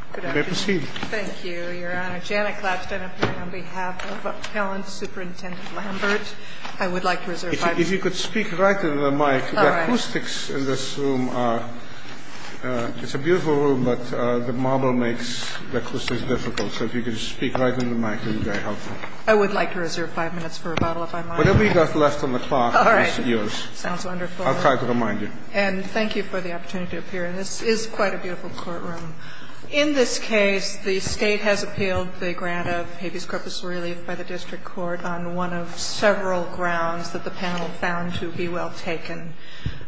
on behalf of Appellant Superintendent Lambert. I would like to reserve five minutes. If you could speak right into the mic. All right. The acoustics in this room are – it's a beautiful room, but the marble makes the acoustics difficult. So if you could just speak right into the mic, it would be very helpful. I would like to reserve five minutes for rebuttal, if I might. Whatever you've got left on the clock is yours. All right. Sounds wonderful. I'll try to remind you. And thank you for the opportunity to appear. And this is quite a beautiful courtroom. In this case, the State has appealed the grant of habeas corpus relief by the district court on one of several grounds that the panel found to be well taken.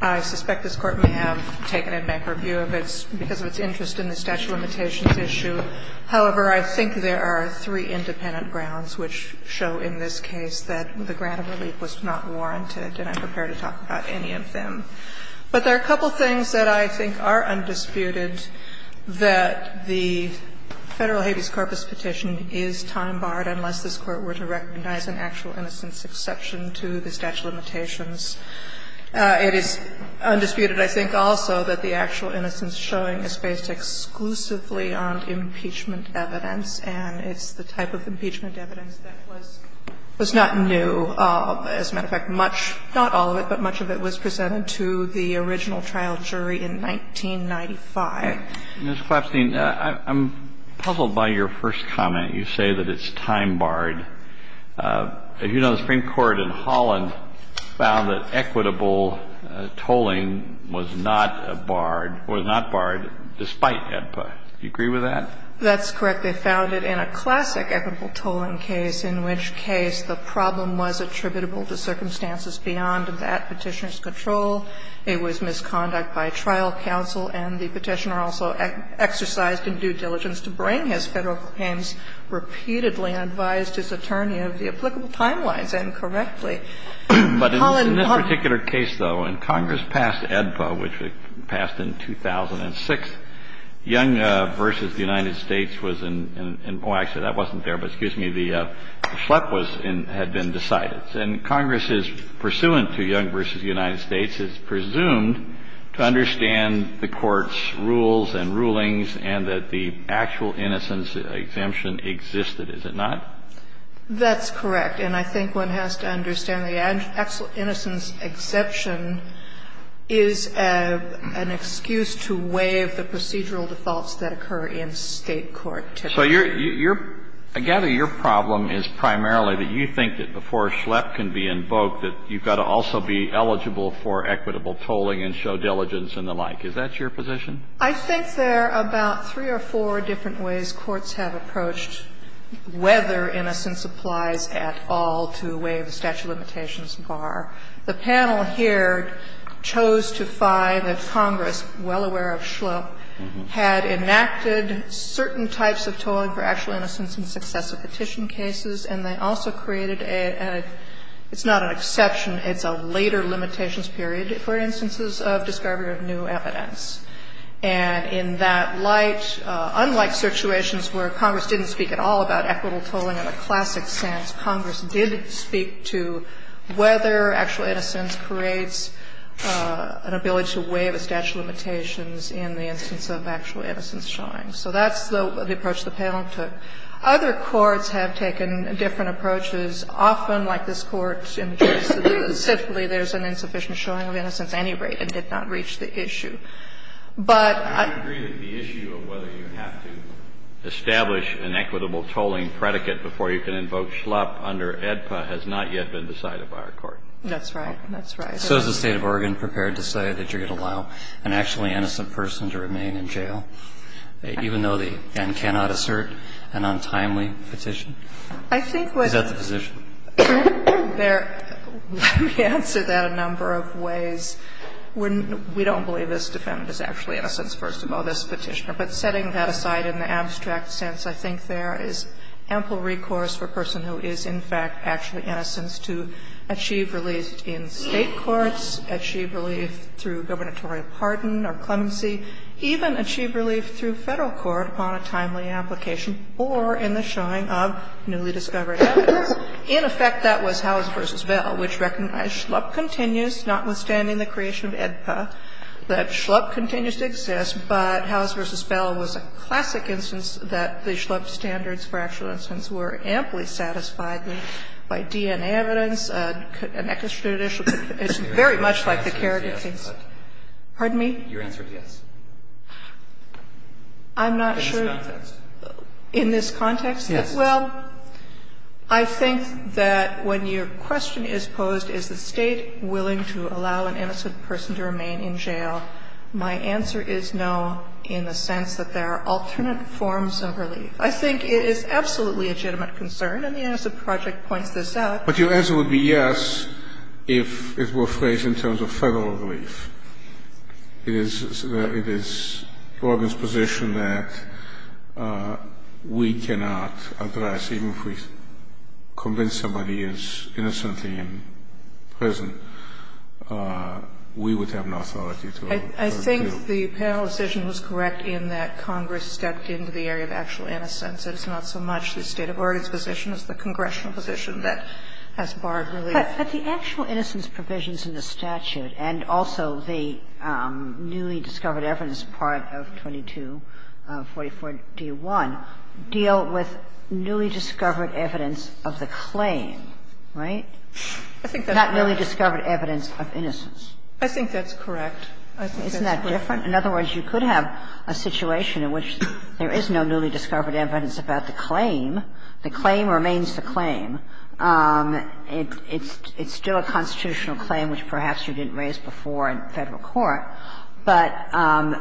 I suspect this Court may have taken a macro view of it because of its interest in the statute of limitations issue. However, I think there are three independent grounds which show in this case that the grant of relief was not warranted, and I'm prepared to talk about any of them. But there are a couple of things that I think are undisputed, that the Federal habeas corpus petition is time barred unless this Court were to recognize an actual innocence exception to the statute of limitations. It is undisputed, I think, also that the actual innocence showing is based exclusively on impeachment evidence, and it's the type of impeachment evidence that was not new. As a matter of fact, much, not all of it, but much of it was presented to the original trial jury in 1995. Kennedy. Ms. Klapstein, I'm puzzled by your first comment. You say that it's time barred. As you know, the Supreme Court in Holland found that equitable tolling was not barred or was not barred despite HEDPA. Do you agree with that? That's correct. They found it in a classic equitable tolling case, in which case the problem was attributable to circumstances beyond that Petitioner's control. It was misconduct by trial counsel, and the Petitioner also exercised in due diligence to bring his Federal claims repeatedly and advised his attorney of the applicable timelines incorrectly. But in this particular case, though, when Congress passed HEDPA, which passed in 2006, Young v. The United States was in – oh, actually, that wasn't there. But excuse me, the shlup was in – had been decided. And Congress, pursuant to Young v. The United States, is presumed to understand the Court's rules and rulings and that the actual innocence exemption existed, is it not? That's correct. And I think one has to understand the actual innocence exception is an excuse to waive the procedural defaults that occur in State court typically. So your – I gather your problem is primarily that you think that before a shlup can be invoked that you've got to also be eligible for equitable tolling and show diligence and the like. Is that your position? I think there are about three or four different ways courts have approached whether innocence applies at all to waive the statute of limitations bar. The panel here chose to find that Congress, well aware of shlup, had enacted certain types of tolling for actual innocence in successive petition cases, and they also created a – it's not an exception, it's a later limitations period, for instances of discovery of new evidence. And in that light, unlike situations where Congress didn't speak at all about whether actual innocence creates an ability to waive a statute of limitations in the instance of actual innocence showing. So that's the approach the panel took. Other courts have taken different approaches. Often, like this Court in the case, simply there's an insufficient showing of innocence at any rate and did not reach the issue. But I don't agree that the issue of whether you have to establish an equitable tolling predicate before you can invoke shlup under AEDPA has not yet been decided by our Court. That's right. That's right. So is the State of Oregon prepared to say that you're going to allow an actually innocent person to remain in jail, even though the N cannot assert an untimely petition? I think what's the position? There – let me answer that a number of ways. We don't believe this defendant is actually innocent, first of all, this Petitioner. But setting that aside in the abstract sense, I think there is ample recourse for a person who is, in fact, actually innocent to achieve relief in State courts, achieve relief through gubernatorial pardon or clemency, even achieve relief through Federal court upon a timely application or in the showing of newly discovered evidence. In effect, that was Howes v. Bell, which recognized shlup continues, notwithstanding the creation of AEDPA, that shlup continues to exist, but Howes v. Bell was a classic instance that the shlup standards for actual innocence were amply satisfied by DNA evidence, an extrajudicial – it's very much like the Kerrigan case. Pardon me? Your answer is yes. I'm not sure. In this context. In this context? Yes. Well, I think that when your question is posed, is the State willing to allow an innocent person to remain in jail, my answer is no, in the sense that there are alternate forms of relief. I think it is absolutely a legitimate concern, and the Innocent Project points this out. But your answer would be yes if it were phrased in terms of Federal relief. It is – it is Borgen's position that we cannot address, even if we convince somebody is innocently in prison, we would have an authority to refer to. I think the panel decision was correct in that Congress stepped into the area of actual innocence. It's not so much the State of Oregon's position as the congressional position that has borrowed relief. But the actual innocence provisions in the statute and also the newly-discovered evidence part of 2244d.1 deal with newly-discovered evidence of the claim, right? I think that's correct. Not newly-discovered evidence of innocence. I think that's correct. I think that's correct. Isn't that different? In other words, you could have a situation in which there is no newly-discovered evidence about the claim. The claim remains the claim. It's still a constitutional claim, which perhaps you didn't raise before in Federal court, but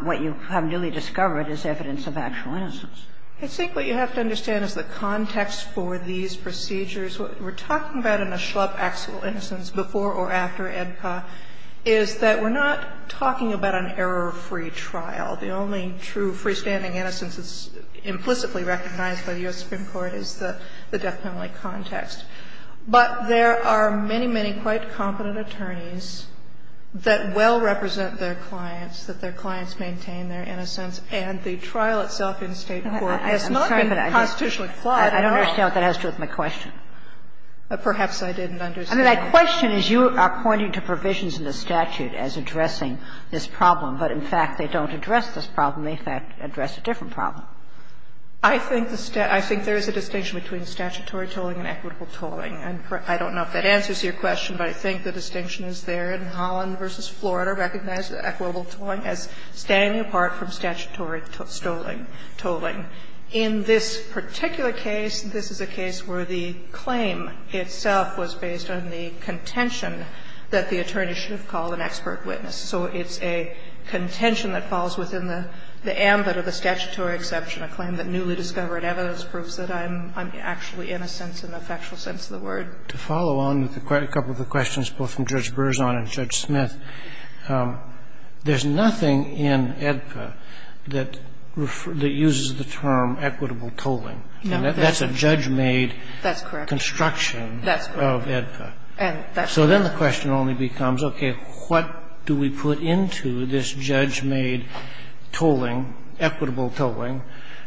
what you have newly discovered is evidence of actual innocence. I think what you have to understand is the context for these procedures. What we're talking about in the Schlupp actual innocence before or after AEDPA is that we're not talking about an error-free trial. The only true freestanding innocence that's implicitly recognized by the U.S. Supreme Court is the death penalty context. But there are many, many quite competent attorneys that well represent their clients, that their clients maintain their innocence, and the trial itself in State court has not been constitutionally flawed at all. Kagan. I don't understand what that has to do with my question. Perhaps I didn't understand. I mean, my question is you are pointing to provisions in the statute as addressing this problem, but in fact they don't address this problem. They, in fact, address a different problem. I think there is a distinction between statutory tolling and equitable tolling. And I don't know if that answers your question, but I think the distinction is there in Holland v. Florida recognized equitable tolling as standing apart from statutory tolling. In this particular case, this is a case where the claim itself was based on the contention that the attorney should have called an expert witness. So it's a contention that falls within the ambit of the statutory exception, a claim that newly discovered evidence proves that I'm actually innocent in the factual sense of the word. To follow on with a couple of the questions both from Judge Berzon and Judge Smith, there's nothing in AEDPA that uses the term equitable tolling. That's correct. That's correct. And that's true. So then the question only becomes, okay, what do we put into this judge-made tolling, equitable tolling?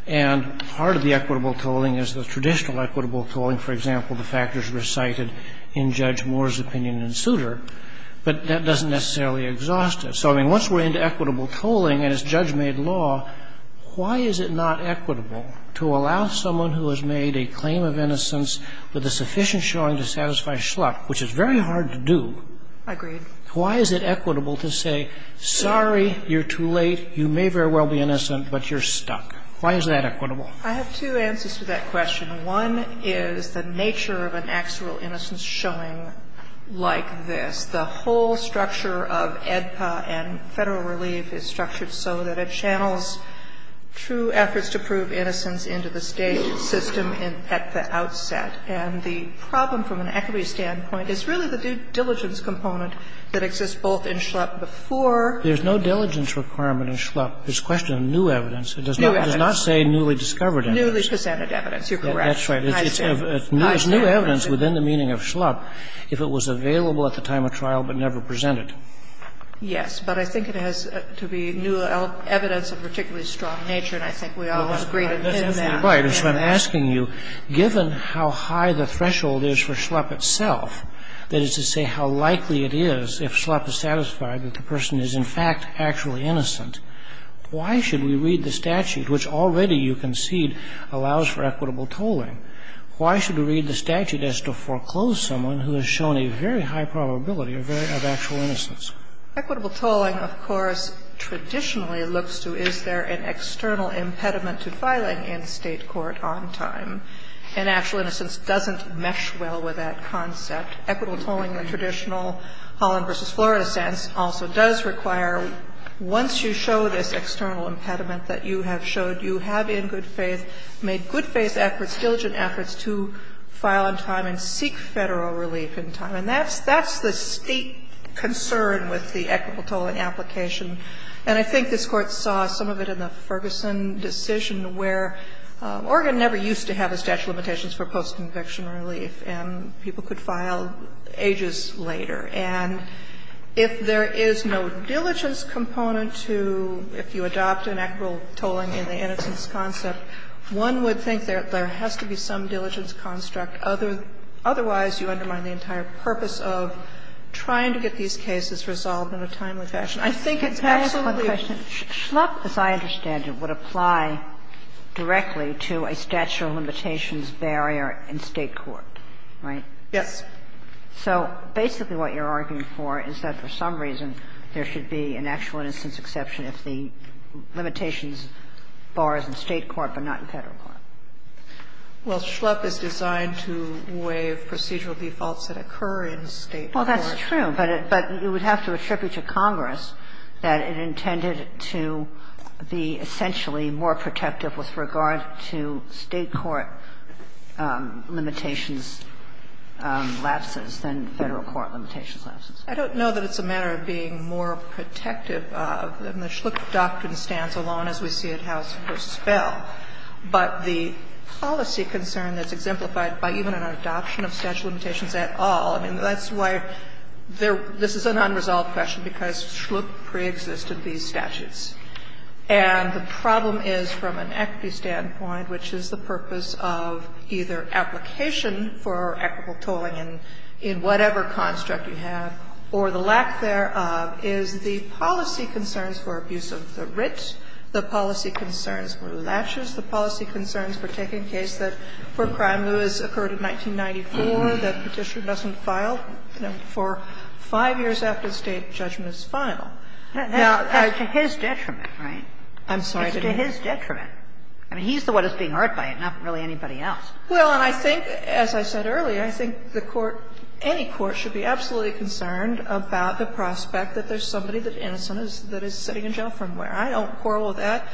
And part of the equitable tolling is the traditional equitable tolling. For example, the factors recited in Judge Moore's opinion in Souter. But that doesn't necessarily exhaust it. So, I mean, once we're into equitable tolling and it's judge-made law, why is it not equitable to allow someone who has made a claim of innocence with a sufficient evidence-showing to satisfy schluck, which is very hard to do, why is it equitable to say, sorry, you're too late, you may very well be innocent, but you're stuck? Why is that equitable? I have two answers to that question. One is the nature of an actual innocence showing like this. The whole structure of AEDPA and Federal relief is structured so that it channels true efforts to prove innocence into the State system at the outset. And the problem from an equity standpoint is really the due diligence component that exists both in schluck before There's no diligence requirement in schluck. It's a question of new evidence. It does not say newly discovered evidence. Newly presented evidence. You're correct. That's right. It's new evidence within the meaning of schluck if it was available at the time of trial but never presented. Yes. But I think it has to be new evidence of a particularly strong nature, and I think we all agree in that. Right. And so I'm asking you, given how high the threshold is for schluck itself, that is to say how likely it is if schluck is satisfied that the person is in fact actually innocent, why should we read the statute, which already you concede allows for equitable tolling? Why should we read the statute as to foreclose someone who has shown a very high probability of actual innocence? Equitable tolling, of course, traditionally looks to is there an external impediment to filing in State court on time, and actual innocence doesn't mesh well with that concept. Equitable tolling in the traditional Holland v. Florida sense also does require once you show this external impediment that you have showed, you have in good faith made good faith efforts, diligent efforts to file on time and seek Federal relief in time. And that's the State concern with the equitable tolling application, and I think this Court saw some of it in the Ferguson decision, where Oregon never used to have a statute of limitations for post-conviction relief, and people could file ages later. And if there is no diligence component to, if you adopt an equitable tolling in the innocence concept, one would think that there has to be some diligence construct, otherwise you undermine the entire purpose of trying to get these cases resolved in a timely fashion. I think it's absolutely. What's your question? Schlup, as I understand it, would apply directly to a statute of limitations barrier in State court, right? Yes. So basically what you're arguing for is that for some reason, there should be an actual innocence exception if the limitations bar is in State court, but not in Federal court. Well, Schlup is designed to waive procedural defaults that occur in State court. Well, that's true, but it would have to attribute to Congress that it intended to be essentially more protective with regard to State court limitations lapses than Federal court limitations lapses. I don't know that it's a matter of being more protective of, and the Schlup doctrine stands alone, as we see at House v. Spell. But the policy concern that's exemplified by even an adoption of statute of limitations at all, I mean, that's why this is an unresolved question, because Schlup preexisted these statutes. And the problem is, from an equity standpoint, which is the purpose of either application for equitable tolling in whatever construct you have, or the lack thereof, is the policy concerns for abuse of the writ, the policy concerns for latches, the policy concerns for taking a case that, where crime lewis occurred in 1994, that petition doesn't file, you know, for five years after the State judgment is final. Now, I think that's to his detriment, right? I'm sorry to interrupt. It's to his detriment. I mean, he's the one that's being hurt by it, not really anybody else. Well, and I think, as I said earlier, I think the court, any court, should be absolutely concerned about the prospect that there's somebody that's innocent that is sitting in jail from where I don't quarrel with that.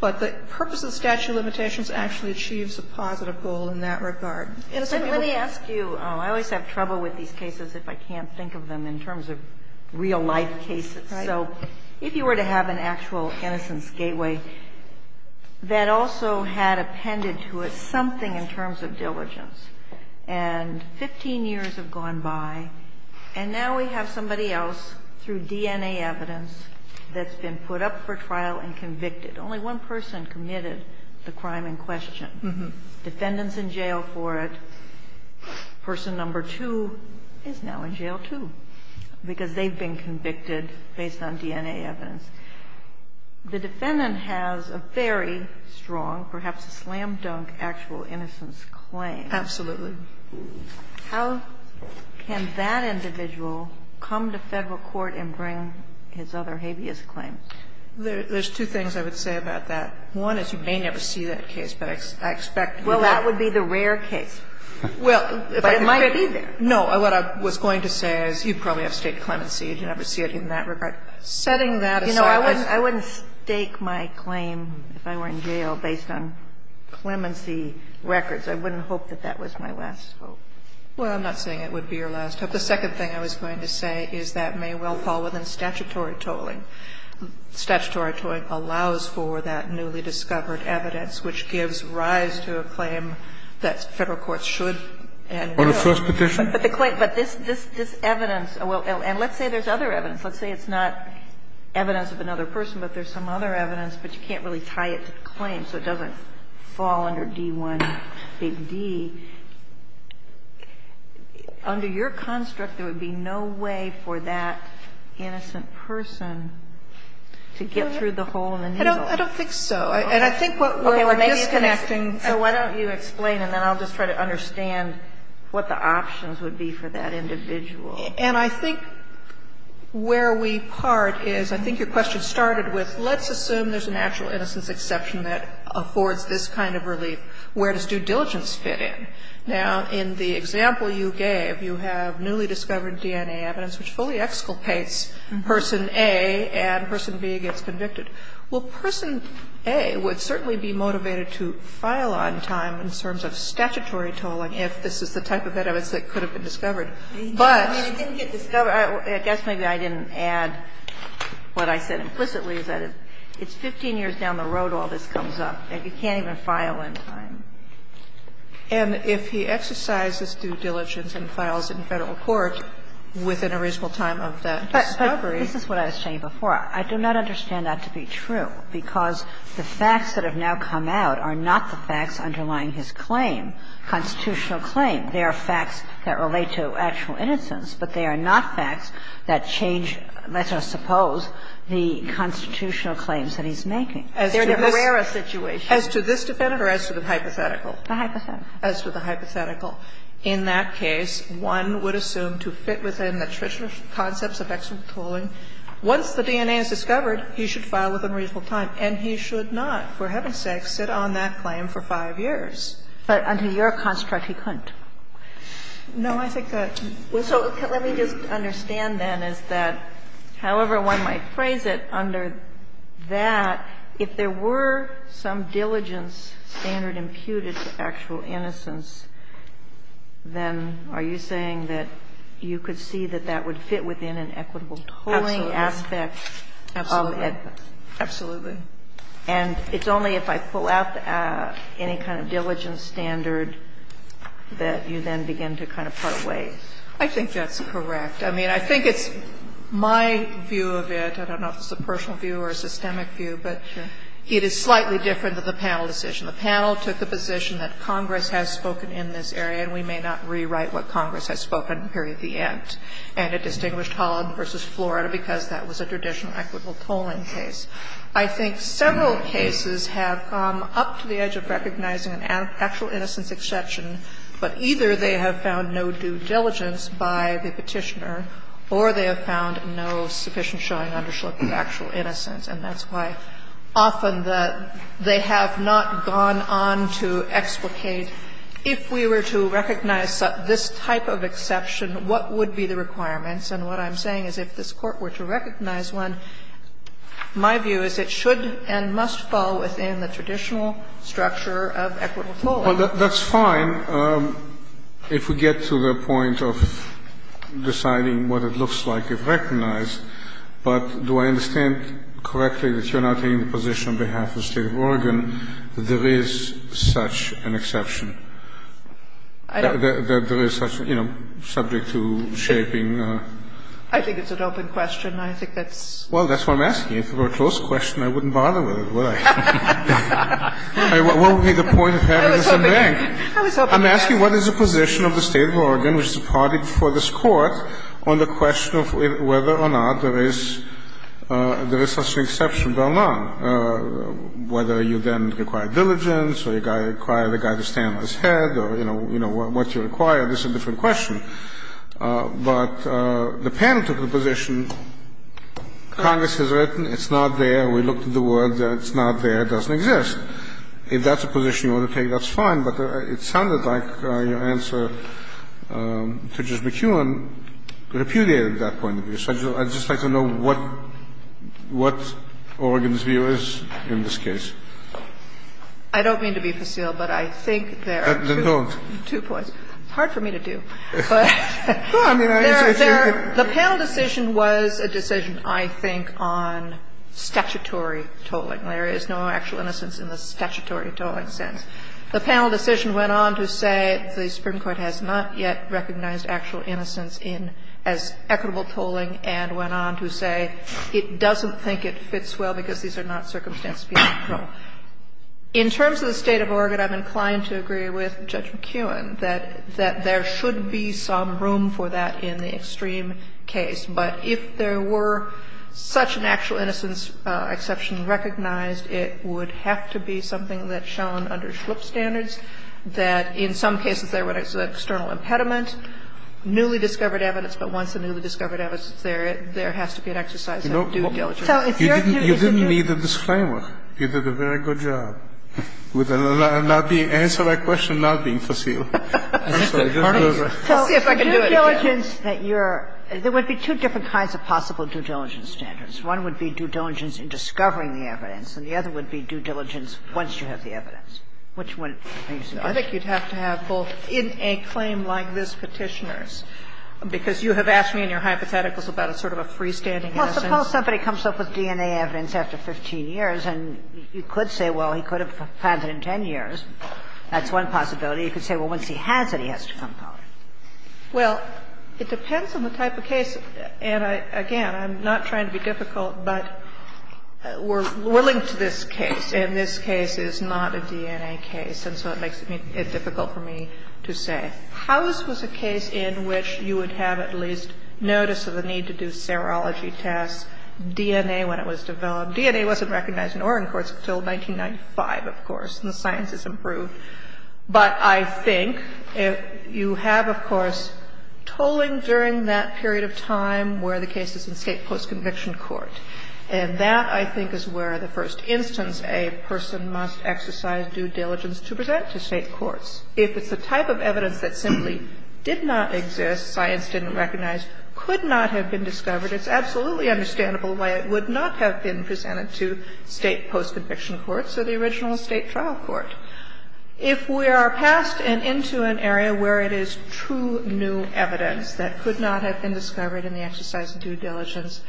But the purpose of statute of limitations actually achieves a positive goal in that regard. Innocent people can't get away with it. Sotomayor, let me ask you, I always have trouble with these cases if I can't think of them in terms of real-life cases. So if you were to have an actual innocence gateway that also had appended to it something in terms of diligence, and 15 years have gone by, and now we have somebody else, through DNA evidence, that's been put up for trial and convicted. Only one person committed the crime in question. Defendant's in jail for it. Person number two is now in jail, too, because they've been convicted based on DNA evidence. The defendant has a very strong, perhaps a slam-dunk actual innocence claim. Absolutely. How can that individual come to Federal court and bring his other habeas claims? There's two things I would say about that. One is you may never see that case, but I expect you will. Well, that would be the rare case. Well, if I could be there. No. What I was going to say is you probably have state clemency. You never see it in that regard. Setting that aside as a case. You know, I wouldn't stake my claim if I were in jail based on clemency records. I wouldn't hope that that was my last hope. Well, I'm not saying it would be your last hope. The second thing I was going to say is that may well fall within statutory tolling. Statutory tolling allows for that newly discovered evidence which gives rise to a claim that Federal courts should and will. On a first petition? But the claim – but this evidence – and let's say there's other evidence. Let's say it's not evidence of another person, but there's some other evidence, but you can't really tie it to the claim, so it doesn't fall under D-1, Big D. Under your construct, there would be no way for that innocent person to get through the hole in the needle. I don't think so. And I think what we're disconnecting – Okay. Well, maybe it's – so why don't you explain, and then I'll just try to understand what the options would be for that individual. And I think where we part is, I think your question started with, let's assume there's an actual innocence exception that affords this kind of relief. Where does due diligence fit in? Now, in the example you gave, you have newly discovered DNA evidence which fully exculpates Person A, and Person B gets convicted. Well, Person A would certainly be motivated to file on time in terms of statutory tolling if this is the type of evidence that could have been discovered. But – I mean, it didn't get discovered. I guess maybe I didn't add what I said implicitly, is that it's 15 years down the road all this comes up, and you can't even file on time. And if he exercises due diligence and files in Federal court within a reasonable time of that discovery – But this is what I was saying before. I do not understand that to be true, because the facts that have now come out are not the facts underlying his claim, constitutional claim. They are facts that relate to actual innocence, but they are not facts that change, let us suppose, the constitutional claims that he's making. They're the rarest situations. As to this defendant or as to the hypothetical? The hypothetical. As to the hypothetical. In that case, one would assume to fit within the traditional concepts of exculpatory tolling. Once the DNA is discovered, he should file within a reasonable time, and he should not, for heaven's sake, sit on that claim for 5 years. But under your construct, he couldn't. No, I think that – So let me just understand, then, is that, however one might phrase it, under that, if there were some diligence standard imputed to actual innocence, then are you saying that you could see that that would fit within an equitable tolling aspect of it? Absolutely. And it's only if I pull out any kind of diligence standard that you then begin to kind of part ways? I think that's correct. I mean, I think it's my view of it. I don't know if it's a personal view or a systemic view, but it is slightly different than the panel decision. The panel took the position that Congress has spoken in this area, and we may not rewrite what Congress has spoken here at the end. And it distinguished Holland v. Florida because that was a traditional equitable tolling case. I think several cases have come up to the edge of recognizing an actual innocence exception, but either they have found no due diligence by the Petitioner or they have found no sufficient showing of actual innocence. And that's why often the – they have not gone on to explicate, if we were to recognize this type of exception, what would be the requirements. And what I'm saying is if this Court were to recognize one, my view is it should and must fall within the traditional structure of equitable tolling. Well, that's fine if we get to the point of deciding what it looks like if recognized. But do I understand correctly that you're not taking the position on behalf of the State of Oregon that there is such an exception? I don't. That there is such a, you know, subject to shaping. I think it's an open question. I think that's – Well, that's what I'm asking. If it were a closed question, I wouldn't bother with it, would I? What would be the point of having this in bank? I'm asking what is the position of the State of Oregon, which is a party before this Court, on the question of whether or not there is such an exception by law, whether or not there is such a position. And I don't know what you require. This is a different question. But the panel took the position, Congress has written, it's not there, we looked at the word, it's not there, it doesn't exist. If that's a position you want to take, that's fine, but it sounded like your answer to Judge McKeown repudiated that point of view. So I'd just like to know what Oregon's view is in this case. I don't mean to be facile, but I think there are two points. Hard for me to do. The panel decision was a decision, I think, on statutory tolling. There is no actual innocence in the statutory tolling sense. The panel decision went on to say the Supreme Court has not yet recognized actual innocence as equitable tolling and went on to say it doesn't think it fits well because these are not circumstances beyond control. In terms of the State of Oregon, I'm inclined to agree with Judge McKeown that there should be some room for that in the extreme case. But if there were such an actual innocence exception recognized, it would have to be something that's shown under SHLIP standards, that in some cases there was an external impediment, newly discovered evidence, but once the newly discovered evidence is there, there has to be an exercise of due diligence. You didn't need a disclaimer. You did a very good job with not being answered by question, not being facile. So I just wanted to see if I could do it again. So due diligence that you're – there would be two different kinds of possible due diligence standards. One would be due diligence in discovering the evidence, and the other would be due diligence once you have the evidence. Which one are you suggesting? I think you'd have to have both in a claim like this Petitioner's, because you have asked me in your hypotheticals about a sort of a freestanding innocence. Well, suppose somebody comes up with DNA evidence after 15 years, and you could say, well, he could have found it in 10 years. That's one possibility. You could say, well, once he has it, he has to come forward. Well, it depends on the type of case. And again, I'm not trying to be difficult, but we're linked to this case, and this case is not a DNA case. And so it makes it difficult for me to say. House was a case in which you would have at least notice of the need to do serology tests, DNA when it was developed. DNA wasn't recognized in Orrin courts until 1995, of course, and the science has improved. But I think if you have, of course, tolling during that period of time where the case is in state post-conviction court. And that, I think, is where the first instance a person must exercise due diligence to present to state courts. If it's a type of evidence that simply did not exist, science didn't recognize, could not have been discovered, it's absolutely understandable why it would not have been presented to state post-conviction courts or the original state trial court. If we are passed and into an area where it is true new evidence that could not have been discovered in the exercise of due diligence,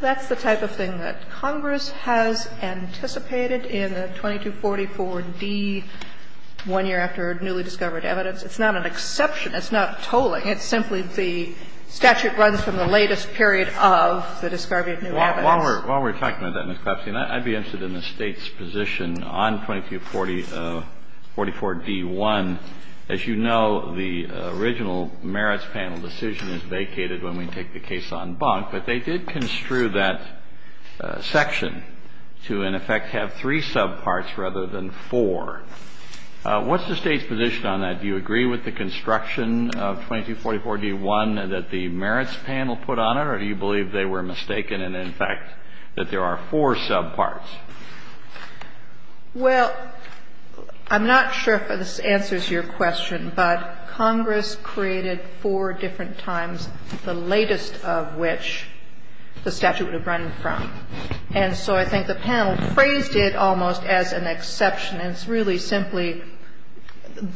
that's the type of thing that Congress has anticipated in the 2244d, one year after newly discovered evidence. It's not an exception. It's not tolling. It's simply the statute runs from the latest period of the discovery of new evidence. Kennedy, while we're talking about that, Ms. Klepsi, I'd be interested in the State's position on 2244d-1. As you know, the original merits panel decision is vacated when we take the case on bunk, but they did construe that section to, in effect, have three subparts rather than four. What's the State's position on that? Do you agree with the construction of 2244d-1 that the merits panel put on it, or do you believe they were mistaken and, in fact, that there are four subparts? Well, I'm not sure if this answers your question, but Congress created four different subparts, and that's not to say that the statute would have run from the latest of times, the latest of which the statute would have run from. And so I think the panel phrased it almost as an exception, and it's really simply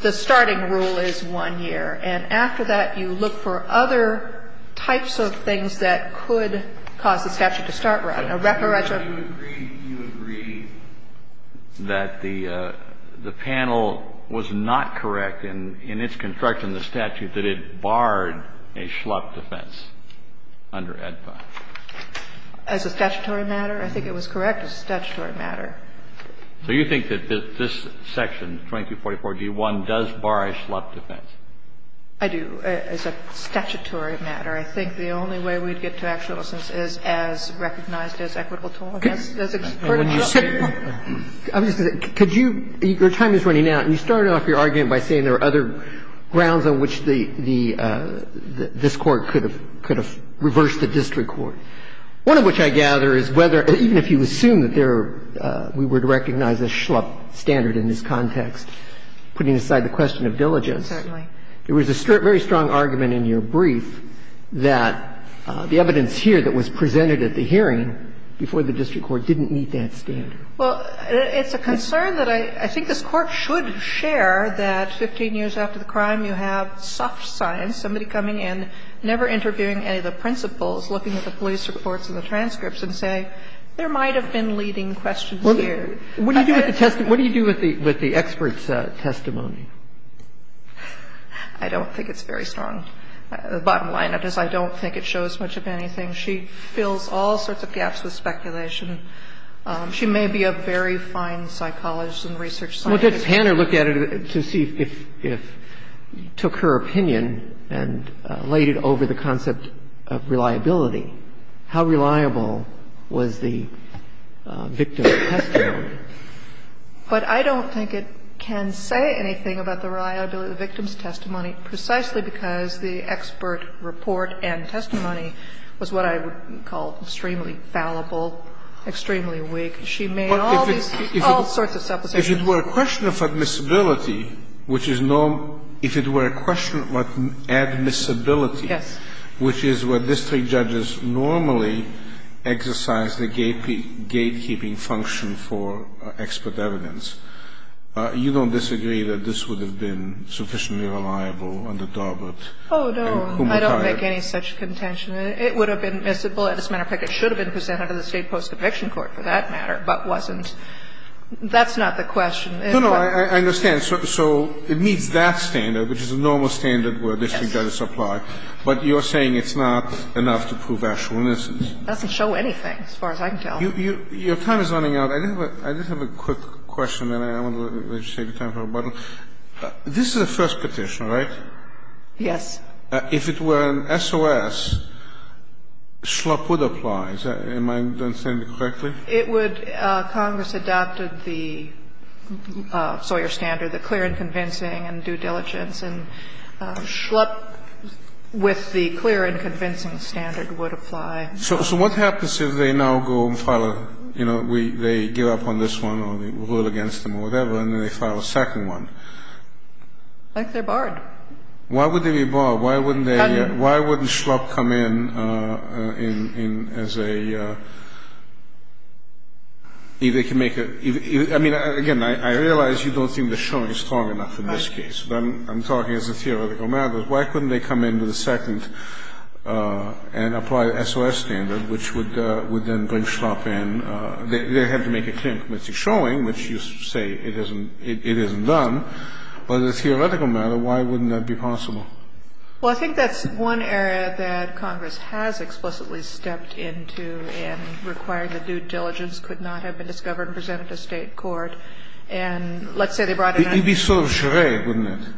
the starting rule is 1 year, and after that you look for other types of things that could cause the statute to start running. And so I think the panel was not correct in its construction of the statute that it barred a schlup defense under AEDPA. As a statutory matter, I think it was correct as a statutory matter. So you think that this section, 2244d1, does bar a schlup defense? I do, as a statutory matter. I think the only way we'd get to actual assistance is as recognized as equitable tolerance. That's a pretty clear point. I'm just going to say, could you – your time is running out, and you started off your argument by saying there are other grounds on which the – this Court could have reversed the district court, one of which I gather is whether – even if you assume that there – we would recognize a schlup standard in this context, putting aside the question of diligence. Certainly. There was a very strong argument in your brief that the evidence here that was presented at the hearing before the district court didn't meet that standard. Well, it's a concern that I – I think this Court should share that 15 years after the crime, you have soft science, somebody coming in, never interviewing any of the principals, looking at the police reports and the transcripts and say, there might have been leading questions here. What do you do with the – what do you do with the expert's testimony? I don't think it's very strong. The bottom line of it is I don't think it shows much of anything. She fills all sorts of gaps with speculation. She may be a very fine psychologist and research scientist. Well, let's hand her a look at it to see if – took her opinion and laid it over the concept of reliability. How reliable was the victim's testimony? But I don't think it can say anything about the reliability of the victim's testimony, precisely because the expert report and testimony was what I would call extremely fallible, extremely weak. She made all these – all sorts of supplications. If it were a question of admissibility, which is no – if it were a question of admissibility, which is where district judges normally exercise the gatekeeping function for expert evidence, you don't disagree that this would have been sufficiently reliable under Darbert? Oh, no. I don't make any such contention. It would have been admissible. As a matter of fact, it should have been presented to the state post-eviction court for that matter, but wasn't. That's not the question. No, no. I understand. So it meets that standard, which is a normal standard where district judges apply. Yes. But you're saying it's not enough to prove actual innocence. It doesn't show anything, as far as I can tell. Your time is running out. I just have a quick question, and I want to let you take the time to rebuttal. This is a first petition, right? Yes. If it were an SOS, Schlapp would apply. Am I understanding it correctly? It would. Congress adopted the Sawyer standard, the clear and convincing and due diligence. And Schlapp, with the clear and convincing standard, would apply. So what happens if they now go and file a, you know, they give up on this one or rule against them or whatever, and then they file a second one? Like they're barred. Why would they be barred? Why wouldn't they be barred? I mean, again, I realize you don't think the showing is strong enough in this case. I'm talking as a theoretical matter. Why couldn't they come in with a second and apply the SOS standard, which would then bring Schlapp in? They'd have to make a clear and convincing showing, which you say it isn't done. But as a theoretical matter, why wouldn't that be possible? Well, I think that's one area that Congress has explicitly stepped into in requiring that due diligence could not have been discovered and presented to State court. And let's say they brought it up. It would be sort of a charade, wouldn't it?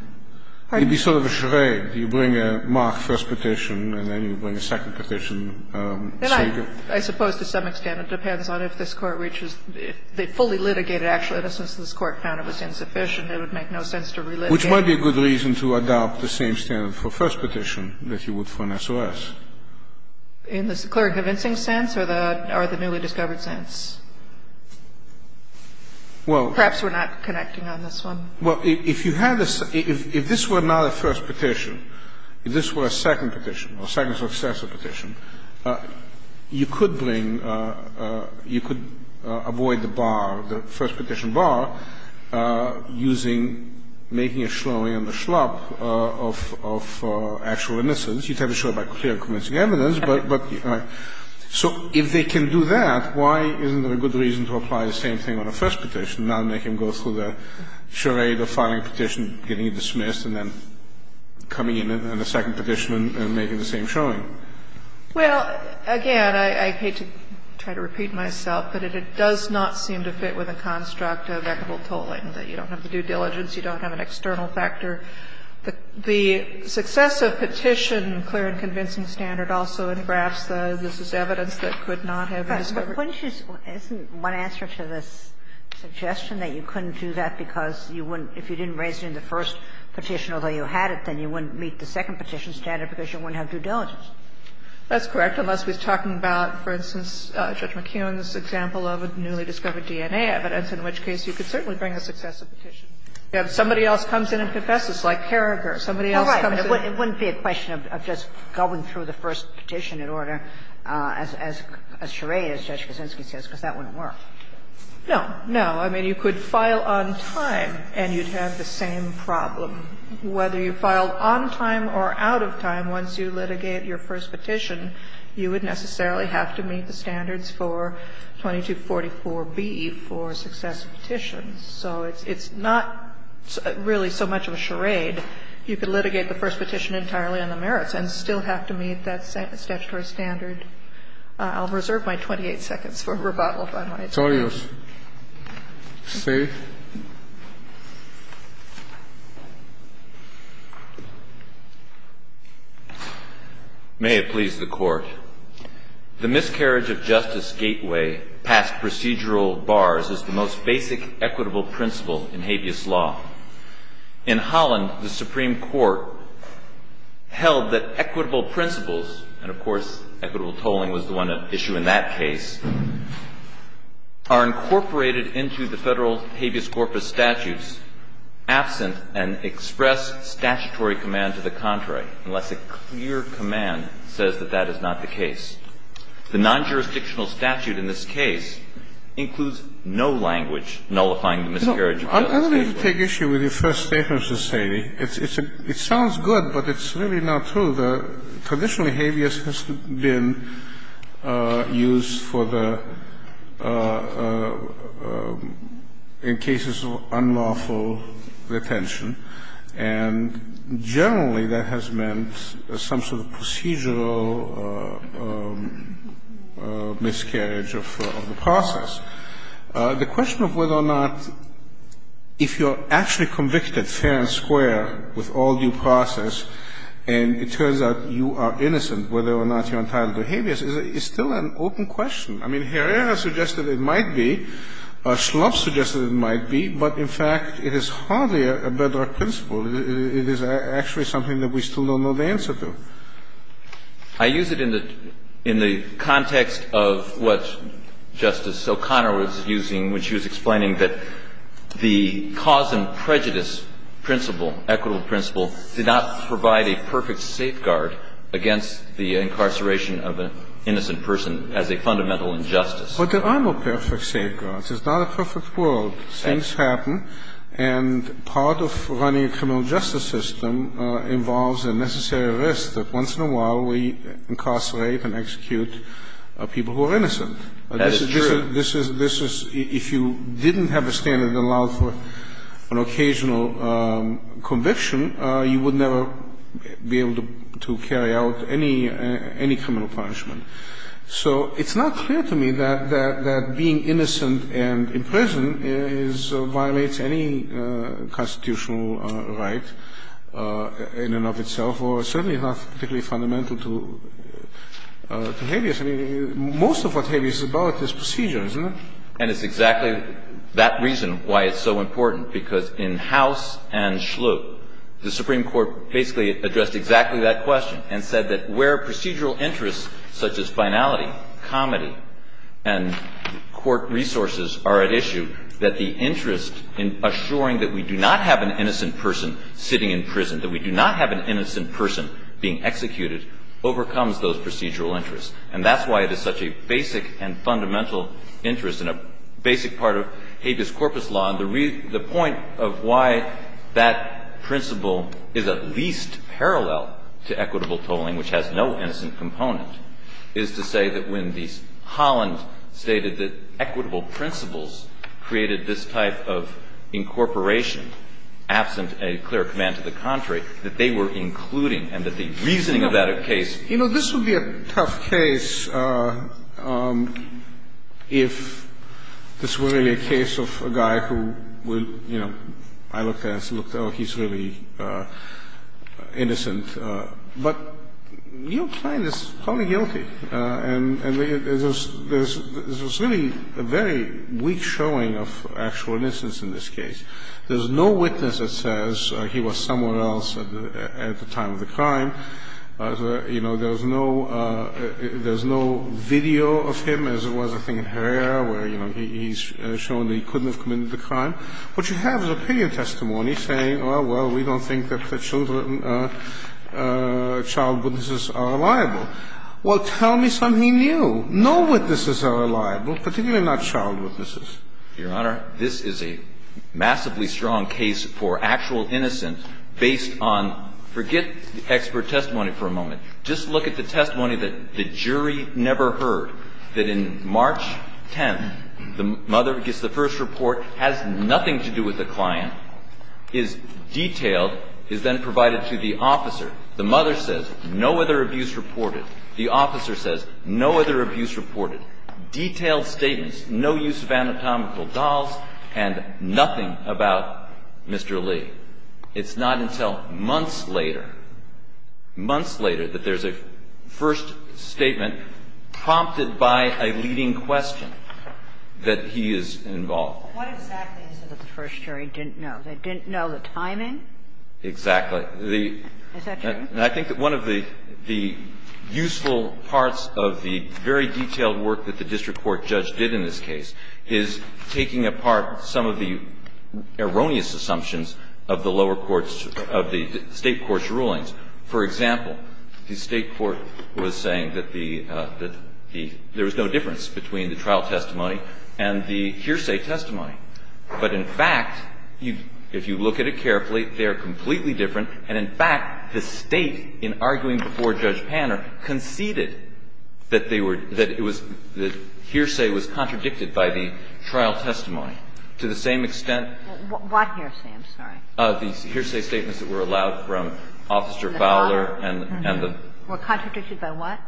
It would be sort of a charade. You bring a mock first petition, and then you bring a second petition. I suppose to some extent it depends on if this Court reaches the fully litigated actual innocence. If this Court found it was insufficient, it would make no sense to relitigate. Which might be a good reason to adopt the same standard for first petition that you would for an SOS. In the clear and convincing sense or the newly discovered sense? Perhaps we're not connecting on this one. Well, if you had a – if this were not a first petition, if this were a second petition, a second successor petition, you could bring – you could avoid the bar, the first petition bar, using – making a showing on the schlop of actual innocence. You'd have to show it by clear and convincing evidence. So if they can do that, why isn't there a good reason to apply the same thing on a first petition, not make him go through the charade of filing a petition, getting it dismissed, and then coming in on a second petition and making the same showing? Well, again, I hate to try to repeat myself, but it does not seem to fit with a construct of equitable tolling, that you don't have the due diligence, you don't have an external factor. The success of petition clear and convincing standard also engraphs the this is evidence that could not have been discovered. But wouldn't you – isn't one answer to this suggestion that you couldn't do that because you wouldn't – if you didn't raise it in the first petition, although you had it, then you wouldn't meet the second petition standard because you wouldn't have due diligence? That's correct, unless we're talking about, for instance, Judge McKeon's example of a newly discovered DNA evidence, in which case you could certainly bring a successive petition. If somebody else comes in and confesses, like Carragher, somebody else comes in. It wouldn't be a question of just going through the first petition in order, as charade as Judge Kaczynski says, because that wouldn't work. No. No. I mean, you could file on time and you'd have the same problem. Whether you filed on time or out of time, once you litigate your first petition, you would necessarily have to meet the standards for 2244B for successive petitions. So it's not really so much of a charade. You could litigate the first petition entirely on the merits and still have to meet that statutory standard. I'll reserve my 28 seconds for rebuttal, if I might. Scalia. May it please the Court. The miscarriage of justice gateway past procedural bars is the most basic equitable principle in habeas law. In Holland, the Supreme Court held that equitable principles, and of course, equitable in that case, are incorporated into the federal habeas corpus statutes absent an express statutory command to the contrary, unless a clear command says that that is not the case. The non-jurisdictional statute in this case includes no language nullifying the miscarriage of justice gateway. I don't need to take issue with your first statement, Mr. Saini. It sounds good, but it's really not true. The traditional habeas has been used for the – in cases of unlawful retention, and generally that has meant some sort of procedural miscarriage of the process. The question of whether or not if you're actually convicted fair and square with all due process, and it turns out you are innocent whether or not you're entitled to habeas is still an open question. I mean, Herrera suggested it might be. Schlupf suggested it might be. But, in fact, it is hardly a bedrock principle. It is actually something that we still don't know the answer to. I use it in the context of what Justice O'Connor was using when she was explaining that the cause and prejudice principle, equitable principle, did not provide a perfect safeguard against the incarceration of an innocent person as a fundamental injustice. But there are no perfect safeguards. It's not a perfect world. Things happen, and part of running a criminal justice system involves a necessary risk that once in a while we incarcerate and execute people who are innocent. That is true. This is, if you didn't have a standard that allowed for an occasional conviction, you would never be able to carry out any criminal punishment. So it's not clear to me that being innocent and in prison violates any constitutional right in and of itself, or certainly not particularly fundamental to habeas. I mean, most of what habeas is about is procedure, isn't it? And it's exactly that reason why it's so important, because in House and Schlup, the Supreme Court basically addressed exactly that question and said that where procedural interests such as finality, comedy, and court resources are at issue, that the interest in assuring that we do not have an innocent person sitting in prison, that we do not have an innocent person being executed, overcomes those procedural interests. And that's why it is such a basic and fundamental interest and a basic part of habeas corpus law, and the point of why that principle is at least parallel to equitable tolling, which has no innocent component, is to say that when Holland stated that equitable principles created this type of incorporation, absent a clear command to the contrary, that they were including and that the reasoning of that case. You know, this would be a tough case if this were really a case of a guy who, you know, I looked at and said, oh, he's really innocent. But Neil Klein is probably guilty. And there's really a very weak showing of actual innocence in this case. There's no witness that says he was somewhere else at the time of the crime. You know, there's no video of him, as it was, I think, in Herrera, where, you know, he's shown that he couldn't have committed the crime. What you have is opinion testimony saying, oh, well, we don't think that the children or child witnesses are liable. Well, tell me something new. No witnesses are liable, particularly not child witnesses. Your Honor, this is a massively strong case for actual innocence based on, forget expert testimony for a moment. Just look at the testimony that the jury never heard, that in March 10th, the mother gets the first report, has nothing to do with the client, is detailed, is then provided to the officer. The mother says, no other abuse reported. The officer says, no other abuse reported. Detailed statements. No use of anatomical dolls and nothing about Mr. Lee. It's not until months later, months later, that there's a first statement prompted by a leading question that he is involved. What exactly is it that the first jury didn't know? They didn't know the timing? Exactly. Is that true? Yes. And I think that one of the useful parts of the very detailed work that the district court judge did in this case is taking apart some of the erroneous assumptions of the lower courts, of the State court's rulings. For example, the State court was saying that there was no difference between the trial testimony and the hearsay testimony. But in fact, if you look at it carefully, they are completely different. And in fact, the State, in arguing before Judge Panner, conceded that they were – that it was – the hearsay was contradicted by the trial testimony to the same extent – What hearsay? I'm sorry. The hearsay statements that were allowed from Officer Fowler and the – Were contradicted by what?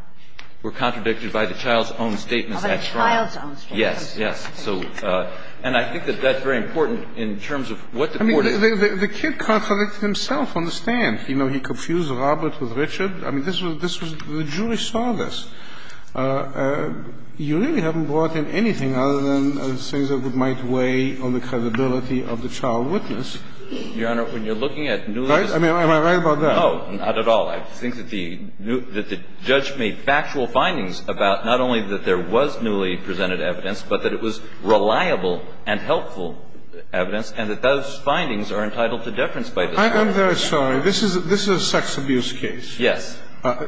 Were contradicted by the child's own statements at trial. Oh, by the child's own statements. Yes. Yes. So – and I think that that's very important in terms of what the court is – I mean, the kid contradicted himself on the stand. You know, he confused Robert with Richard. I mean, this was – the jury saw this. You really haven't brought in anything other than the things that might weigh on the credibility of the child witness. Your Honor, when you're looking at newly – Right? Am I right about that? No, not at all. I think that the judge made factual findings about not only that there was newly presented evidence, but that it was reliable and helpful evidence, and that those findings are entitled to deference by the jury. I'm very sorry. This is a sex abuse case. Yes.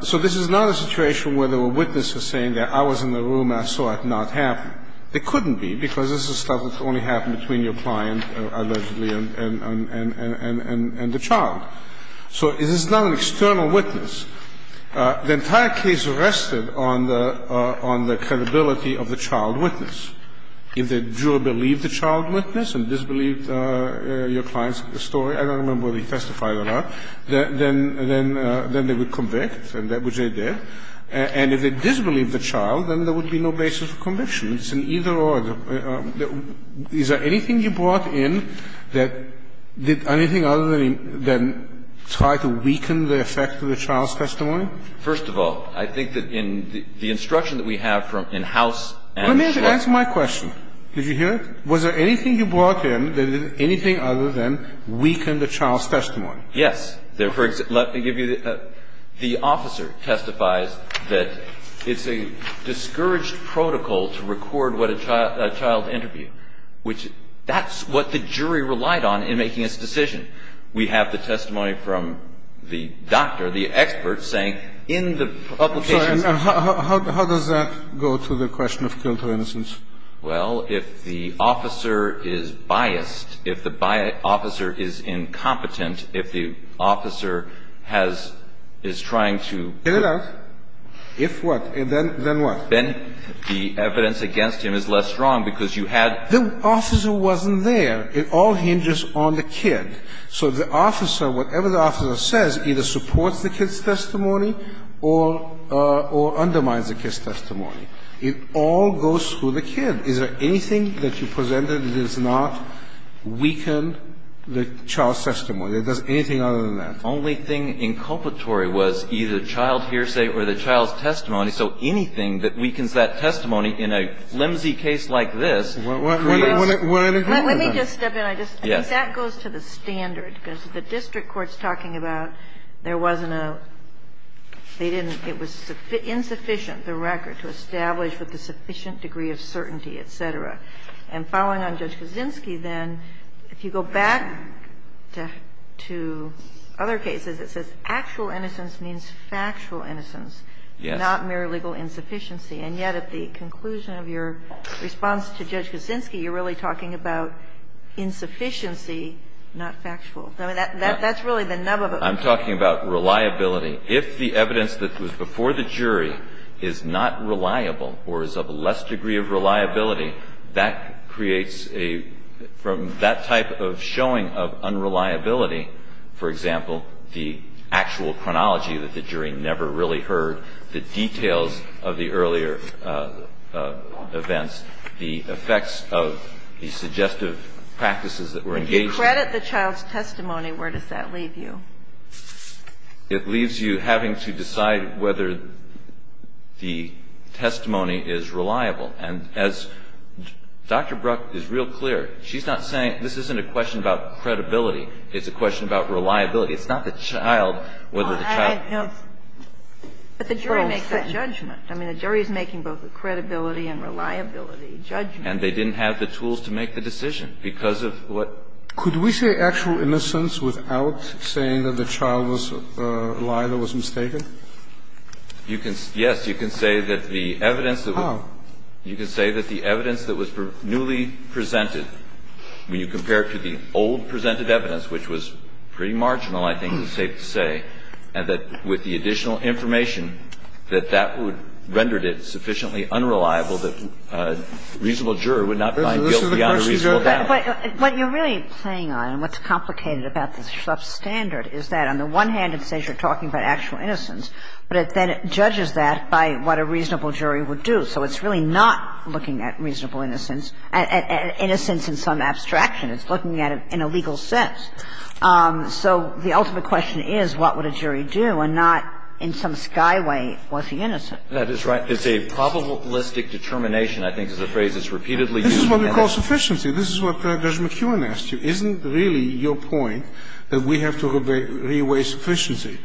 So this is not a situation where there were witnesses saying that I was in the room and I saw it not happen. It couldn't be, because this is stuff that's only happened between your client, allegedly, and the child. So this is not an external witness. The entire case rested on the credibility of the child witness. If the juror believed the child witness and disbelieved your client's story – I don't remember whether he testified or not – then they would convict, which they did. And if they disbelieved the child, then there would be no basis for conviction. It's an either-or. Is there anything you brought in that did anything other than try to weaken the effect of the child's testimony? First of all, I think that in the instruction that we have from – in house and – Let me answer my question. Did you hear it? Was there anything you brought in that did anything other than weaken the child's testimony? Yes. Let me give you – the officer testifies that it's a discouraged protocol to record what a child interviewed, which that's what the jury relied on in making its decision. We have the testimony from the doctor, the expert, saying in the publication – How does that go to the question of guilt or innocence? Well, if the officer is biased, if the officer is incompetent, if the officer has – is trying to – Get it out. If what? Then what? Then the evidence against him is less strong because you had – The officer wasn't there. It all hinges on the kid. So the officer, whatever the officer says, either supports the kid's testimony or undermines the kid's testimony. It all goes through the kid. Is there anything that you presented that does not weaken the child's testimony, that does anything other than that? The only thing inculpatory was either the child hearsay or the child's testimony. So anything that weakens that testimony in a flimsy case like this creates – Well, let me just step in. I think that goes to the standard, because the district court's talking about there wasn't a – they didn't – it was insufficient, the record, to establish with a sufficient degree of certainty, et cetera. And following on Judge Kaczynski, then, if you go back to other cases, it says actual innocence means factual innocence, not mere legal insufficiency. And yet at the conclusion of your response to Judge Kaczynski, you're really talking about insufficiency, not factual. I mean, that's really the nub of it. I'm talking about reliability. If the evidence that was before the jury is not reliable or is of a less degree of reliability, that creates a – from that type of showing of unreliability, for example, the actual chronology that the jury never really heard, the details of the earlier events, the effects of the suggestive practices that were engaged in. If you credit the child's testimony, where does that leave you? It leaves you having to decide whether the testimony is reliable. And as Dr. Bruck is real clear, she's not saying – this isn't a question about credibility. It's a question about reliability. It's not the child, whether the child is. But the jury makes that judgment. I mean, the jury is making both a credibility and reliability judgment. And they didn't have the tools to make the decision because of what? Could we say actual innocence without saying that the child was a liar that was mistaken? You can – yes. You can say that the evidence that was – How? You can say that the evidence that was newly presented, when you compare it to the old presented evidence, which was pretty marginal, I think it's safe to say, and that with the additional information, that that would – rendered it sufficiently unreliable that a reasonable juror would not find guilt beyond a reasonable doubt. What you're really playing on and what's complicated about the Schlepp standard is that, on the one hand, it says you're talking about actual innocence, but it then judges that by what a reasonable jury would do. So it's really not looking at reasonable innocence – innocence in some abstraction. It's looking at it in a legal sense. So the ultimate question is what would a jury do and not, in some skyway, was he innocent? That is right. It's a probabilistic determination, I think, is the phrase that's repeatedly used. This is what we call sufficiency. This is what Judge McKeown asked you. Isn't really your point that we have to re-weigh sufficiency?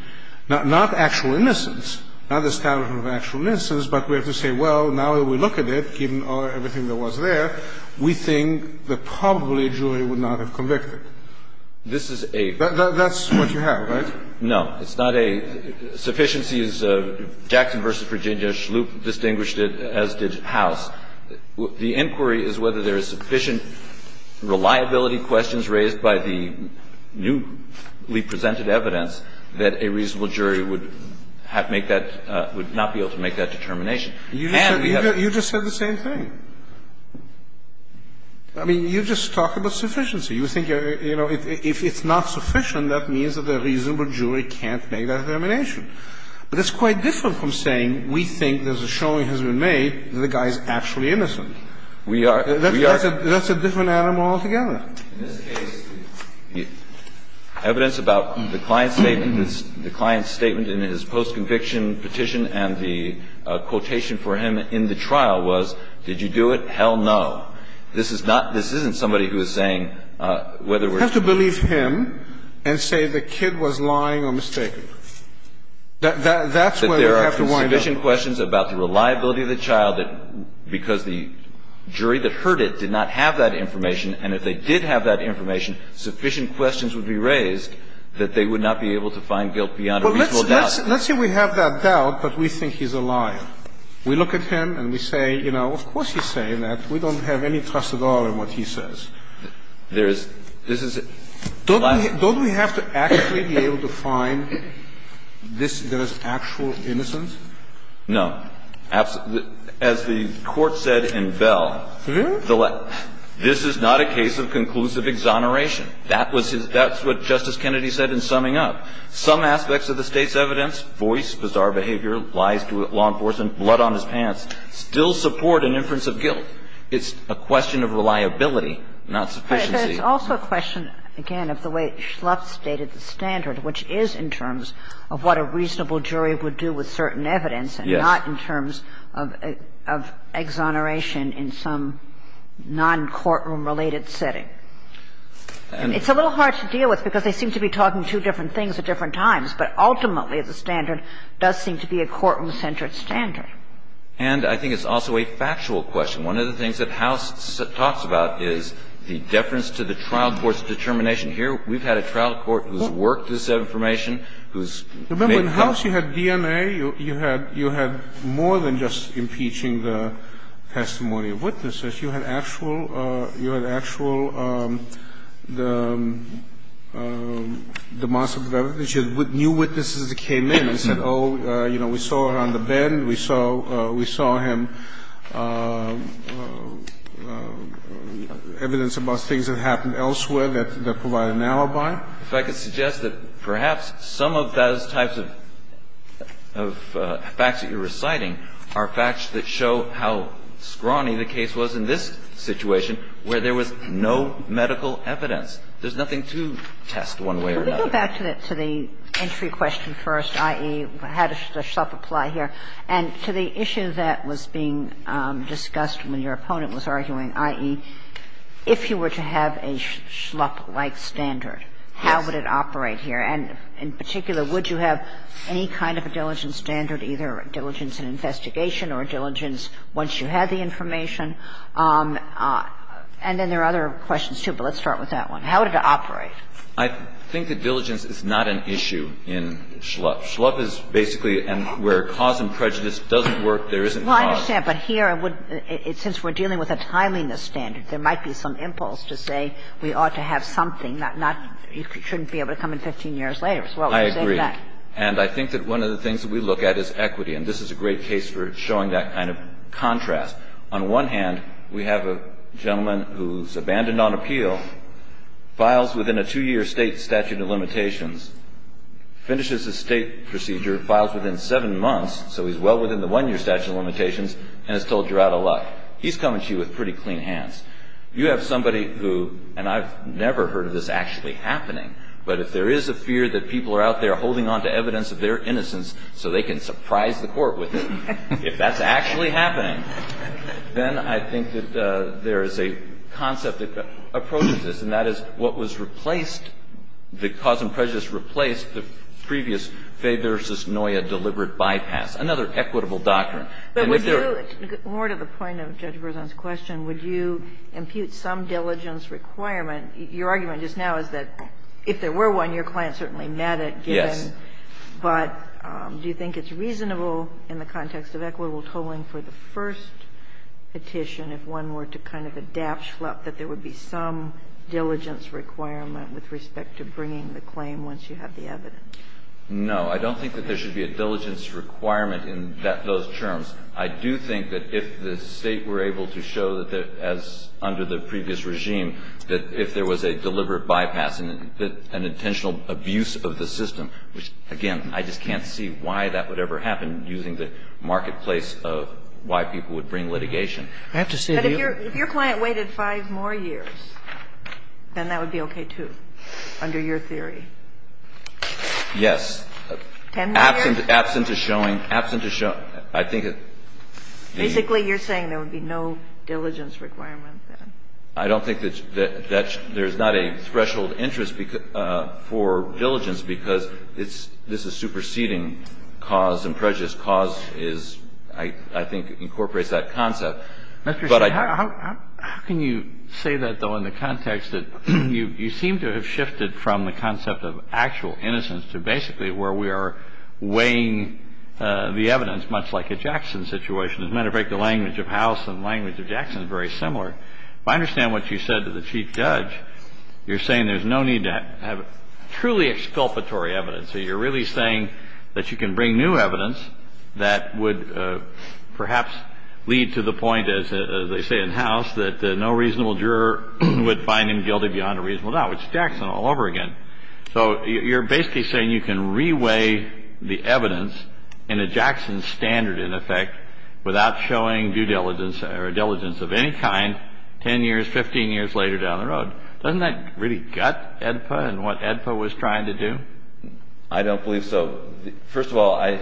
Not actual innocence, not the standard of actual innocence, but we have to say, well, now that we look at it, given everything that was there, we think that probably a jury would not have convicted. This is a… That's what you have, right? No. It's not a – sufficiency is Jackson v. Virginia. Schloop distinguished it, as did House. The inquiry is whether there is sufficient reliability questions raised by the newly presented evidence that a reasonable jury would have make that – would not be able to make that determination. And we have… You just said the same thing. I mean, you just talk about sufficiency. You think, you know, if it's not sufficient, that means that a reasonable jury can't make that determination. But that's quite different from saying we think there's a showing that has been made that the guy is actually innocent. We are – we are… That's a different animal altogether. In this case, the evidence about the client's statement, the client's statement in his post-conviction petition and the quotation for him in the trial was, did you Hell no. This is not – this isn't somebody who is saying whether we're… We have to believe him and say the kid was lying or mistaken. That's where we have to wind up. That there are sufficient questions about the reliability of the child that – because the jury that heard it did not have that information, and if they did have that information, sufficient questions would be raised that they would not be able to find guilt beyond a reasonable doubt. Well, let's say we have that doubt, but we think he's a liar. We look at him and we say, you know, of course he's saying that. We don't have any trust at all in what he says. There is – this is… Don't we – don't we have to actually be able to find this – there is actual innocence? No. As the Court said in Bell… Really? …this is not a case of conclusive exoneration. That was his – that's what Justice Kennedy said in summing up. Some aspects of the State's evidence, voice, bizarre behavior, lies to law enforcement, blood on his pants, still support an inference of guilt. It's a question of reliability, not sufficiency. But there's also a question, again, of the way Schlupf stated the standard, which is in terms of what a reasonable jury would do with certain evidence and not in terms of exoneration in some non-courtroom-related setting. And it's a little hard to deal with because they seem to be talking two different things at different times. But ultimately, the standard does seem to be a courtroom-centered standard. And I think it's also a factual question. One of the things that House talks about is the deference to the trial court's determination. Here we've had a trial court who's worked this information, who's made… Remember, in House you had DNA. You had – you had more than just impeaching the testimony of witnesses. You had actual – you had actual demonstrative evidence. You had new witnesses that came in and said, oh, you know, we saw her on the bed. We saw – we saw him – evidence about things that happened elsewhere that provided an alibi. If I could suggest that perhaps some of those types of facts that you're reciting are facts that show how scrawny the case was in this situation where there was no medical evidence. There's nothing to test one way or another. Let me go back to the entry question first, i.e., how does the SHLUP apply here, and to the issue that was being discussed when your opponent was arguing, i.e., if you were to have a SHLUP-like standard, how would it operate here? And in particular, would you have any kind of a diligence standard, either a diligence in investigation or a diligence once you had the information? And then there are other questions, too, but let's start with that one. How would it operate? I think that diligence is not an issue in SHLUP. SHLUP is basically where cause and prejudice doesn't work, there isn't cause. Well, I understand, but here I would – since we're dealing with a timeliness standard, there might be some impulse to say we ought to have something, not – you shouldn't be able to come in 15 years later. I agree. And I think that one of the things that we look at is equity, and this is a great case for showing that kind of contrast. On one hand, we have a gentleman who's abandoned on appeal, files within a two-year state statute of limitations, finishes his state procedure, files within seven months, so he's well within the one-year statute of limitations, and is told you're out of luck. He's coming to you with pretty clean hands. You have somebody who – and I've never heard of this actually happening, but if there is a fear that people are out there holding on to evidence of their innocence so they can surprise the Court with it, if that's actually happening, then I think that there is a concept that approaches this, and that is what was replaced, the cause and prejudice replaced the previous Fay v. Noya deliberate bypass. Another equitable doctrine. And if there are – But would you – more to the point of Judge Berzon's question, would you impute some diligence requirement? Your argument just now is that if there were one, your client certainly met it, given. Yes. But do you think it's reasonable in the context of equitable tolling for the first petition, if one were to kind of adapt Schlupp, that there would be some diligence requirement with respect to bringing the claim once you have the evidence? No. I don't think that there should be a diligence requirement in those terms. I do think that if the State were able to show that, as under the previous regime, that if there was a deliberate bypass and an intentional abuse of the system, which, again, I just can't see why that would ever happen using the marketplace of why people would bring litigation. I have to say to you – But if your client waited 5 more years, then that would be okay, too, under your theory. Yes. 10 more years? Absent a showing – absent a show – I think that the – Basically, you're saying there would be no diligence requirement then. I don't think that there's not a threshold interest for diligence because this is superseding cause and prejudice. Cause is – I think incorporates that concept. But I – How can you say that, though, in the context that you seem to have shifted from the concept of actual innocence to basically where we are weighing the evidence, much like a Jackson situation? As a matter of fact, the language of House and the language of Jackson is very similar. If I understand what you said to the Chief Judge, you're saying there's no need to have truly exculpatory evidence. So you're really saying that you can bring new evidence that would perhaps lead to the point, as they say in House, that no reasonable juror would find him guilty beyond a reasonable doubt, which is Jackson all over again. So you're basically saying you can re-weigh the evidence in a Jackson standard, in effect, without showing due diligence or diligence of any kind 10 years, 15 years later down the road. Doesn't that really gut AEDPA and what AEDPA was trying to do? I don't believe so. First of all, I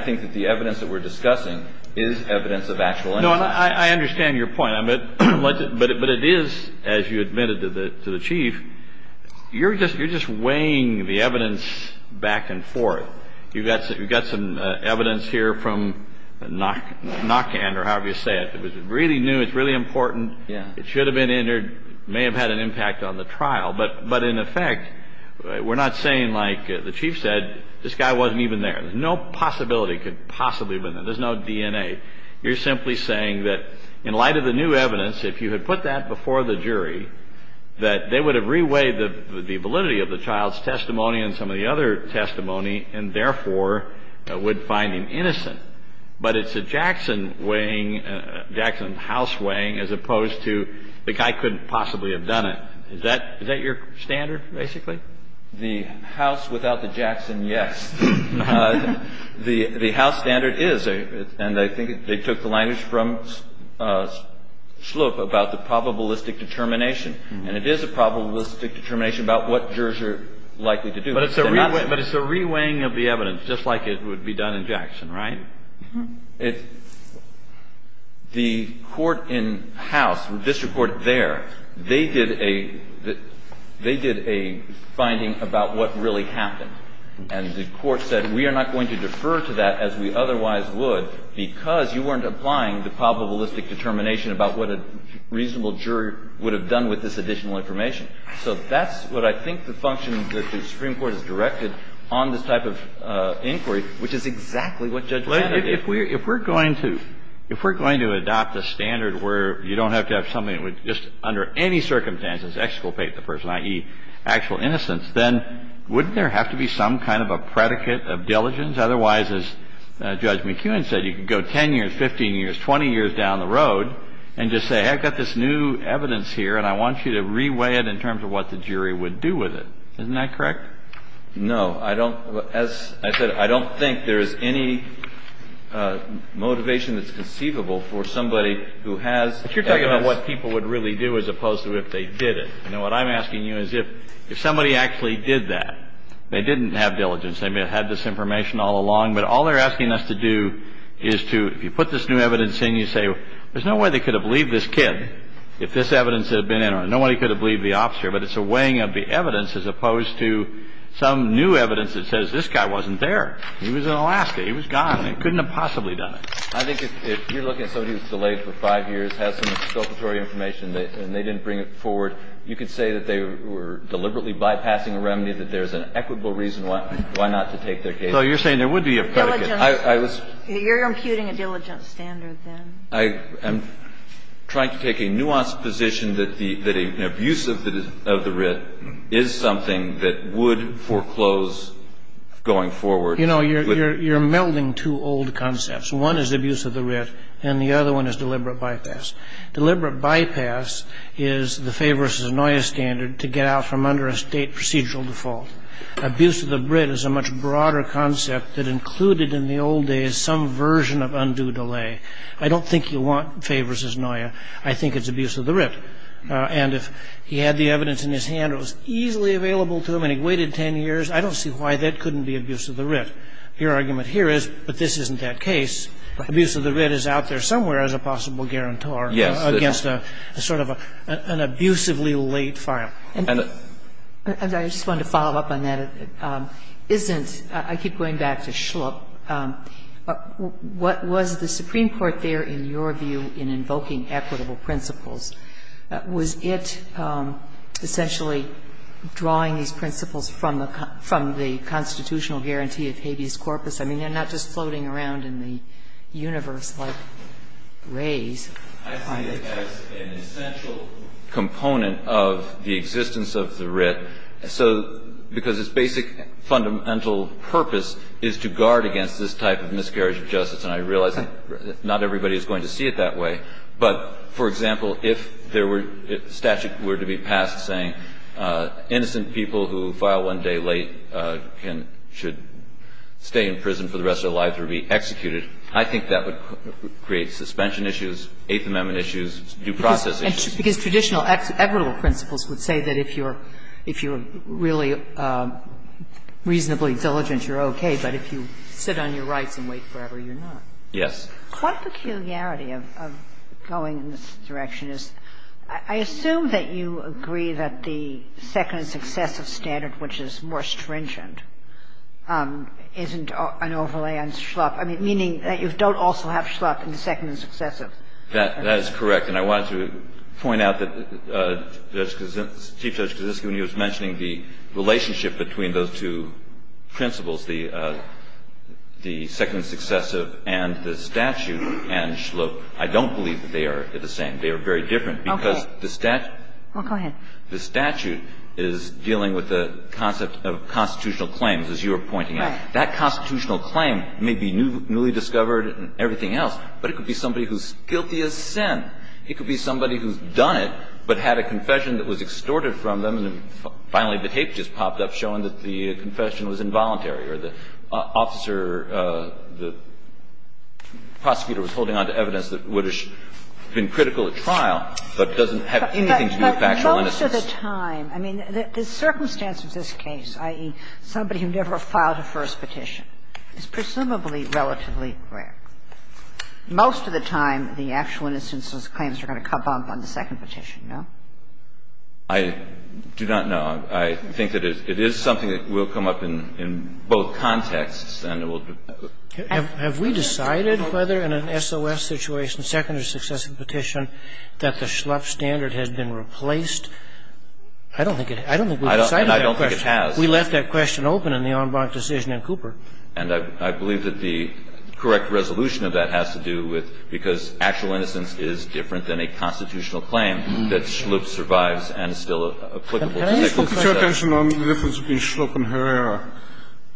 think that the evidence that we're discussing is evidence of actual innocence. No, and I understand your point. But it is, as you admitted to the Chief, you're just weighing the evidence back and forth. You've got some evidence here from NACAN or however you say it. It was really new. It's really important. It should have been entered, may have had an impact on the trial. But in effect, we're not saying, like the Chief said, this guy wasn't even there. No possibility could possibly have been there. There's no DNA. You're simply saying that in light of the new evidence, if you had put that before the jury, that they would have re-weighed the validity of the child's testimony and some of the other testimony and therefore would find him innocent. But it's a Jackson weighing, Jackson house weighing as opposed to the guy couldn't possibly have done it. Is that your standard, basically? The house without the Jackson, yes. The house standard is, and I think they took the language from Sloop about the probabilistic determination, and it is a probabilistic determination about what jurors are likely to do. But it's a re-weighing of the evidence, just like it would be done in Jackson, right? It's the court in house, district court there, they did a finding about what really happened. And the court said, we are not going to defer to that as we otherwise would because you weren't applying the probabilistic determination about what a reasonable jury would have done with this additional information. So that's what I think the function that the Supreme Court has directed on this type of inquiry, which is exactly what Judge Landau did. If we're going to adopt a standard where you don't have to have somebody that would just under any circumstances exculpate the person, i.e., actual innocence, then wouldn't there have to be some kind of a predicate of diligence? Otherwise, as Judge McEwen said, you could go 10 years, 15 years, 20 years down the jury would do with it. Isn't that correct? No. I don't as I said, I don't think there is any motivation that's conceivable for somebody who has. But you're talking about what people would really do as opposed to if they did it. And what I'm asking you is if somebody actually did that, they didn't have diligence, they may have had this information all along, but all they're asking us to do is to, if you put this new evidence in, you say, there's no way they could have believed this kid if this evidence had been in. Nobody could have believed the officer. But it's a weighing of the evidence as opposed to some new evidence that says this guy wasn't there. He was in Alaska. He was gone. They couldn't have possibly done it. I think if you're looking at somebody who's delayed for 5 years, has some exculpatory information, and they didn't bring it forward, you could say that they were deliberately bypassing a remedy, that there's an equitable reason why not to take their case. So you're saying there would be a predicate. I was. You're imputing a diligence standard then. I'm trying to take a nuanced position that an abuse of the writ is something that would foreclose going forward. You know, you're melding two old concepts. One is abuse of the writ, and the other one is deliberate bypass. Deliberate bypass is the Faye versus Anoya standard to get out from under a State procedural default. Abuse of the writ is a much broader concept that included in the old days some version of undue delay. I don't think you want Faye versus Anoya. I think it's abuse of the writ. And if he had the evidence in his hand, it was easily available to him, and he waited 10 years, I don't see why that couldn't be abuse of the writ. Your argument here is, but this isn't that case. Right. Abuse of the writ is out there somewhere as a possible guarantor. Yes. Against a sort of an abusively late file. And I just wanted to follow up on that. I keep going back to Schlupp. What was the Supreme Court there, in your view, in invoking equitable principles? Was it essentially drawing these principles from the constitutional guarantee of habeas corpus? I mean, they're not just floating around in the universe like rays. I see it as an essential component of the existence of the writ. So because its basic fundamental purpose is to guard against this type of miscarriage of justice. And I realize that not everybody is going to see it that way. But, for example, if there were — if statute were to be passed saying innocent people who file one day late can — should stay in prison for the rest of their lives or be executed, I think that would create suspension issues, Eighth Amendment issues, due process issues. Because traditional equitable principles would say that if you're really reasonably diligent, you're okay. But if you sit on your rights and wait forever, you're not. Yes. What peculiarity of going in this direction is — I assume that you agree that the second and successive standard, which is more stringent, isn't an overlay on Schlupp. I mean, meaning that you don't also have Schlupp in the second and successive. That is correct. And I wanted to point out that Chief Judge Kosinski, when he was mentioning the relationship between those two principles, the second and successive and the statute and Schlupp, I don't believe that they are the same. They are very different. Okay. Because the statute — Well, go ahead. The statute is dealing with the concept of constitutional claims, as you were pointing out. Right. That constitutional claim may be newly discovered and everything else. But it could be somebody who's guilty of sin. It could be somebody who's done it, but had a confession that was extorted from them, and finally the tape just popped up showing that the confession was involuntary or the officer, the prosecutor was holding on to evidence that would have been critical at trial, but doesn't have anything to do with factual innocence. But most of the time, I mean, the circumstance of this case, i.e., somebody who never filed a first petition, is presumably relatively rare. Most of the time, the actual innocence claims are going to come up on the second petition, no? I do not know. I think that it is something that will come up in both contexts, and it will be — Have we decided whether in an SOS situation, second or successive petition, that the Schlupp standard has been replaced? I don't think it has. I don't think we've decided that question. And I don't think it has. We left that question open in the en banc decision in Cooper. And I believe that the correct resolution of that has to do with, because actual innocence is different than a constitutional claim, that Schlupp survives and is still applicable. Can I just focus your attention on the difference between Schlupp and Herrera?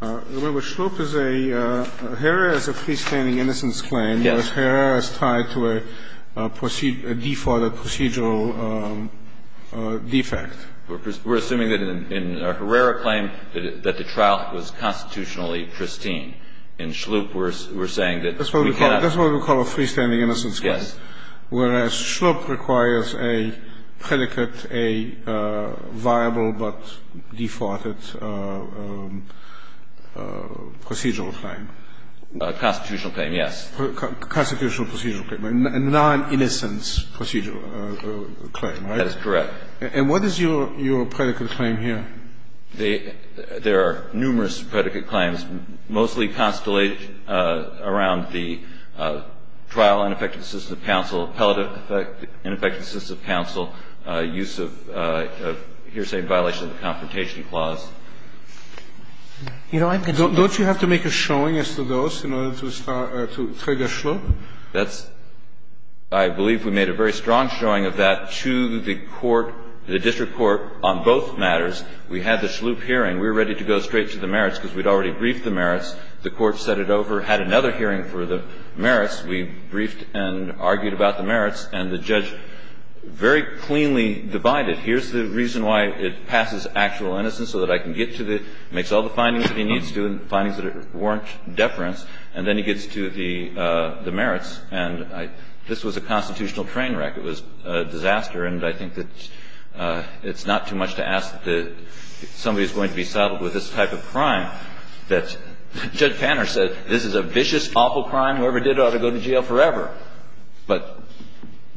Remember, Schlupp is a — Herrera is a freestanding innocence claim. Yes. Whereas Herrera is tied to a defaulted procedural defect. We're assuming that in a Herrera claim that the trial was constitutionally pristine. In Schlupp, we're saying that we cannot — That's what we call a freestanding innocence claim. Yes. Whereas Schlupp requires a predicate, a viable but defaulted procedural claim. A constitutional claim, yes. A constitutional procedural claim, a non-innocence procedural claim, right? That is correct. And what is your — your predicate claim here? The — there are numerous predicate claims, mostly constellated around the trial ineffective assistance of counsel, appellative ineffective assistance of counsel, use of hearsay in violation of the Confrontation Clause. You know, I've been — Don't you have to make a showing as to those in order to start — to trigger Schlupp? That's — I believe we made a very strong showing of that to the court, the district court, on both matters. We had the Schlupp hearing. We were ready to go straight to the merits, because we'd already briefed the merits. The court set it over, had another hearing for the merits. We briefed and argued about the merits, and the judge very cleanly divided. Here's the reason why it passes actual innocence, so that I can get to the — makes all the findings that he needs to and findings that warrant deference, and then he gets to the merits. And I — this was a constitutional train wreck. It was a disaster. And I think that it's not too much to ask that somebody is going to be saddled with this type of crime that — Judge Panner said, this is a vicious, awful crime. Whoever did it ought to go to jail forever. But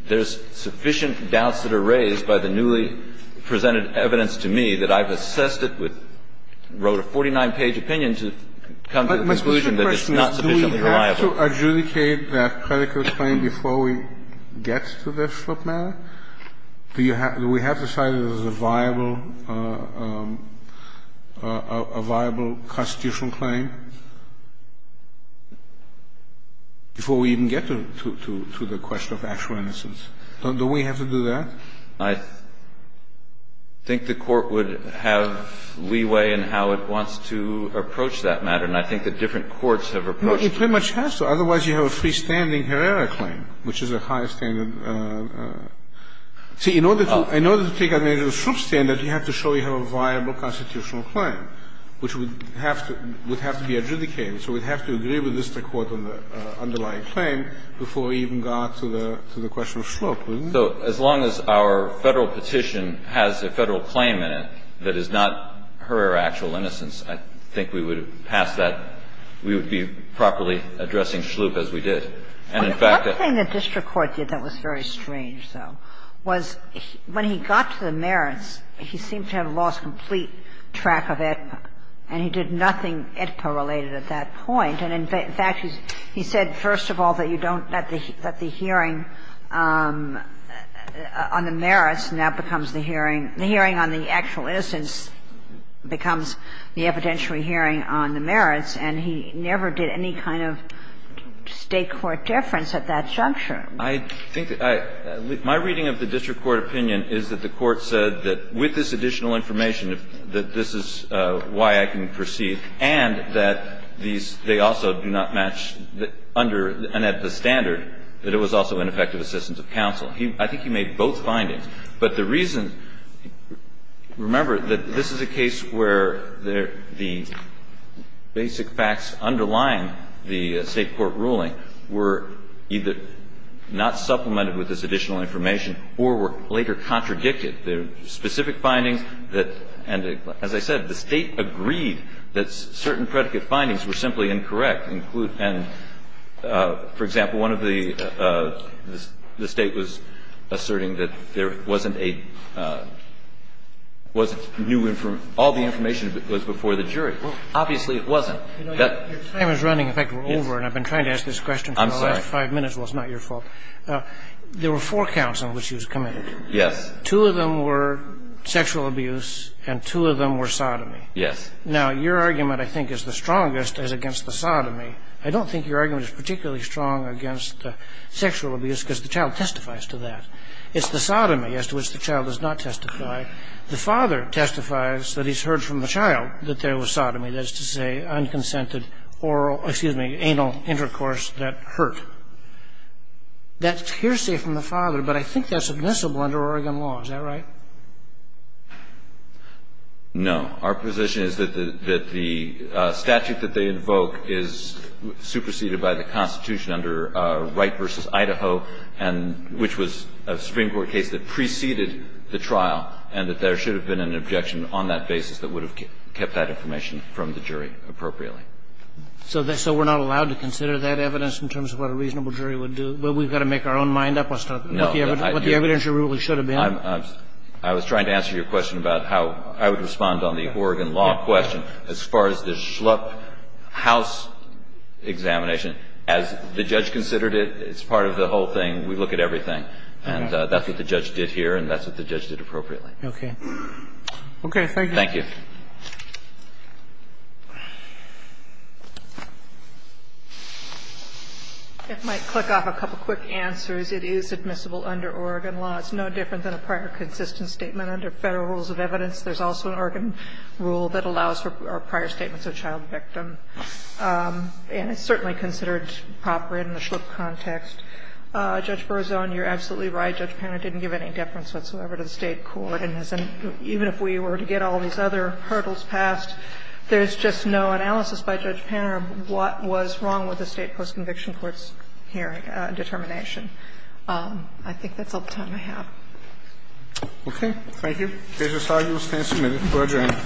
there's sufficient doubts that are raised by the newly presented evidence to me that I've assessed it with — wrote a 49-page opinion to come to the conclusion that it's not sufficiently reliable. Do we have to adjudicate that predicate claim before we get to the Schlupp matter? Do you have — do we have to decide that it's a viable — a viable constitutional claim before we even get to the question of actual innocence? Do we have to do that? I think the Court would have leeway in how it wants to approach that matter. And I think that different courts have approached it. It pretty much has to. Otherwise, you have a freestanding Herrera claim, which is a high standard. See, in order to take advantage of the Schlupp standard, you have to show you have a viable constitutional claim, which would have to — would have to be adjudicated. So we'd have to agree with the district court on the underlying claim before we even got to the question of Schlupp, wouldn't we? So as long as our Federal petition has a Federal claim in it that is not Herrera or actual innocence, I think we would pass that. We would be properly addressing Schlupp as we did. And, in fact, the — One thing the district court did that was very strange, though, was when he got to the merits, he seemed to have lost complete track of it, and he did nothing IDPA-related at that point. And, in fact, he said, first of all, that you don't — that the hearing on the merits now becomes the hearing — the hearing on the actual innocence becomes the evidentiary hearing on the merits, and he never did any kind of State court deference at that juncture. I think that I — my reading of the district court opinion is that the Court said that with this additional information, that this is why I can proceed, and that these — they also do not match under an IDPA standard, that it was also ineffective assistance of counsel. He — I think he made both findings. But the reason — remember that this is a case where there — the basic facts underlying the State court ruling were either not supplemented with this additional information or were later contradicted. There are specific findings that — and, as I said, the State agreed that certain predicate findings were simply incorrect, and, for example, one of the — the State was asserting that there wasn't a — wasn't new — all the information was before the jury. Obviously, it wasn't. That — Your time is running. In fact, we're over, and I've been trying to ask this question for the last five minutes. I'm sorry. Well, it's not your fault. There were four counts on which he was committed. Yes. Two of them were sexual abuse and two of them were sodomy. Yes. Now, your argument, I think, is the strongest as against the sodomy. I don't think your argument is particularly strong against sexual abuse because the child testifies to that. It's the sodomy as to which the child does not testify. The father testifies that he's heard from the child that there was sodomy, that is to say, unconsented oral — excuse me, anal intercourse that hurt. That's hearsay from the father, but I think that's admissible under Oregon law. Is that right? No. Our position is that the — that the statute that they invoke is superseded by the Constitution under Wright v. Idaho, and — which was a Supreme Court case that preceded the trial, and that there should have been an objection on that basis that would have kept that information from the jury appropriately. So we're not allowed to consider that evidence in terms of what a reasonable jury would do? Well, we've got to make our own mind up on what the evidence really should have been. I was trying to answer your question about how I would respond on the Oregon law question. As far as the Schlupf house examination, as the judge considered it, it's part of the whole thing. We look at everything. And that's what the judge did here, and that's what the judge did appropriately. Okay. Okay. Thank you. Thank you. It might click off a couple quick answers. It is admissible under Oregon law. It's no different than a prior consistent statement under Federal Rules of Evidence. There's also an Oregon rule that allows for prior statements of child victim. And it's certainly considered proper in the Schlupf context. Judge Berzon, you're absolutely right. Judge Panner didn't give any deference whatsoever to the State court. And even if we were to get all these other hurdles passed, there's just no analysis by Judge Panner of what was wrong with the State post-conviction court's hearing determination. I think that's all the time I have. Okay. Thank you. This is how you will stand submitted for adjournment.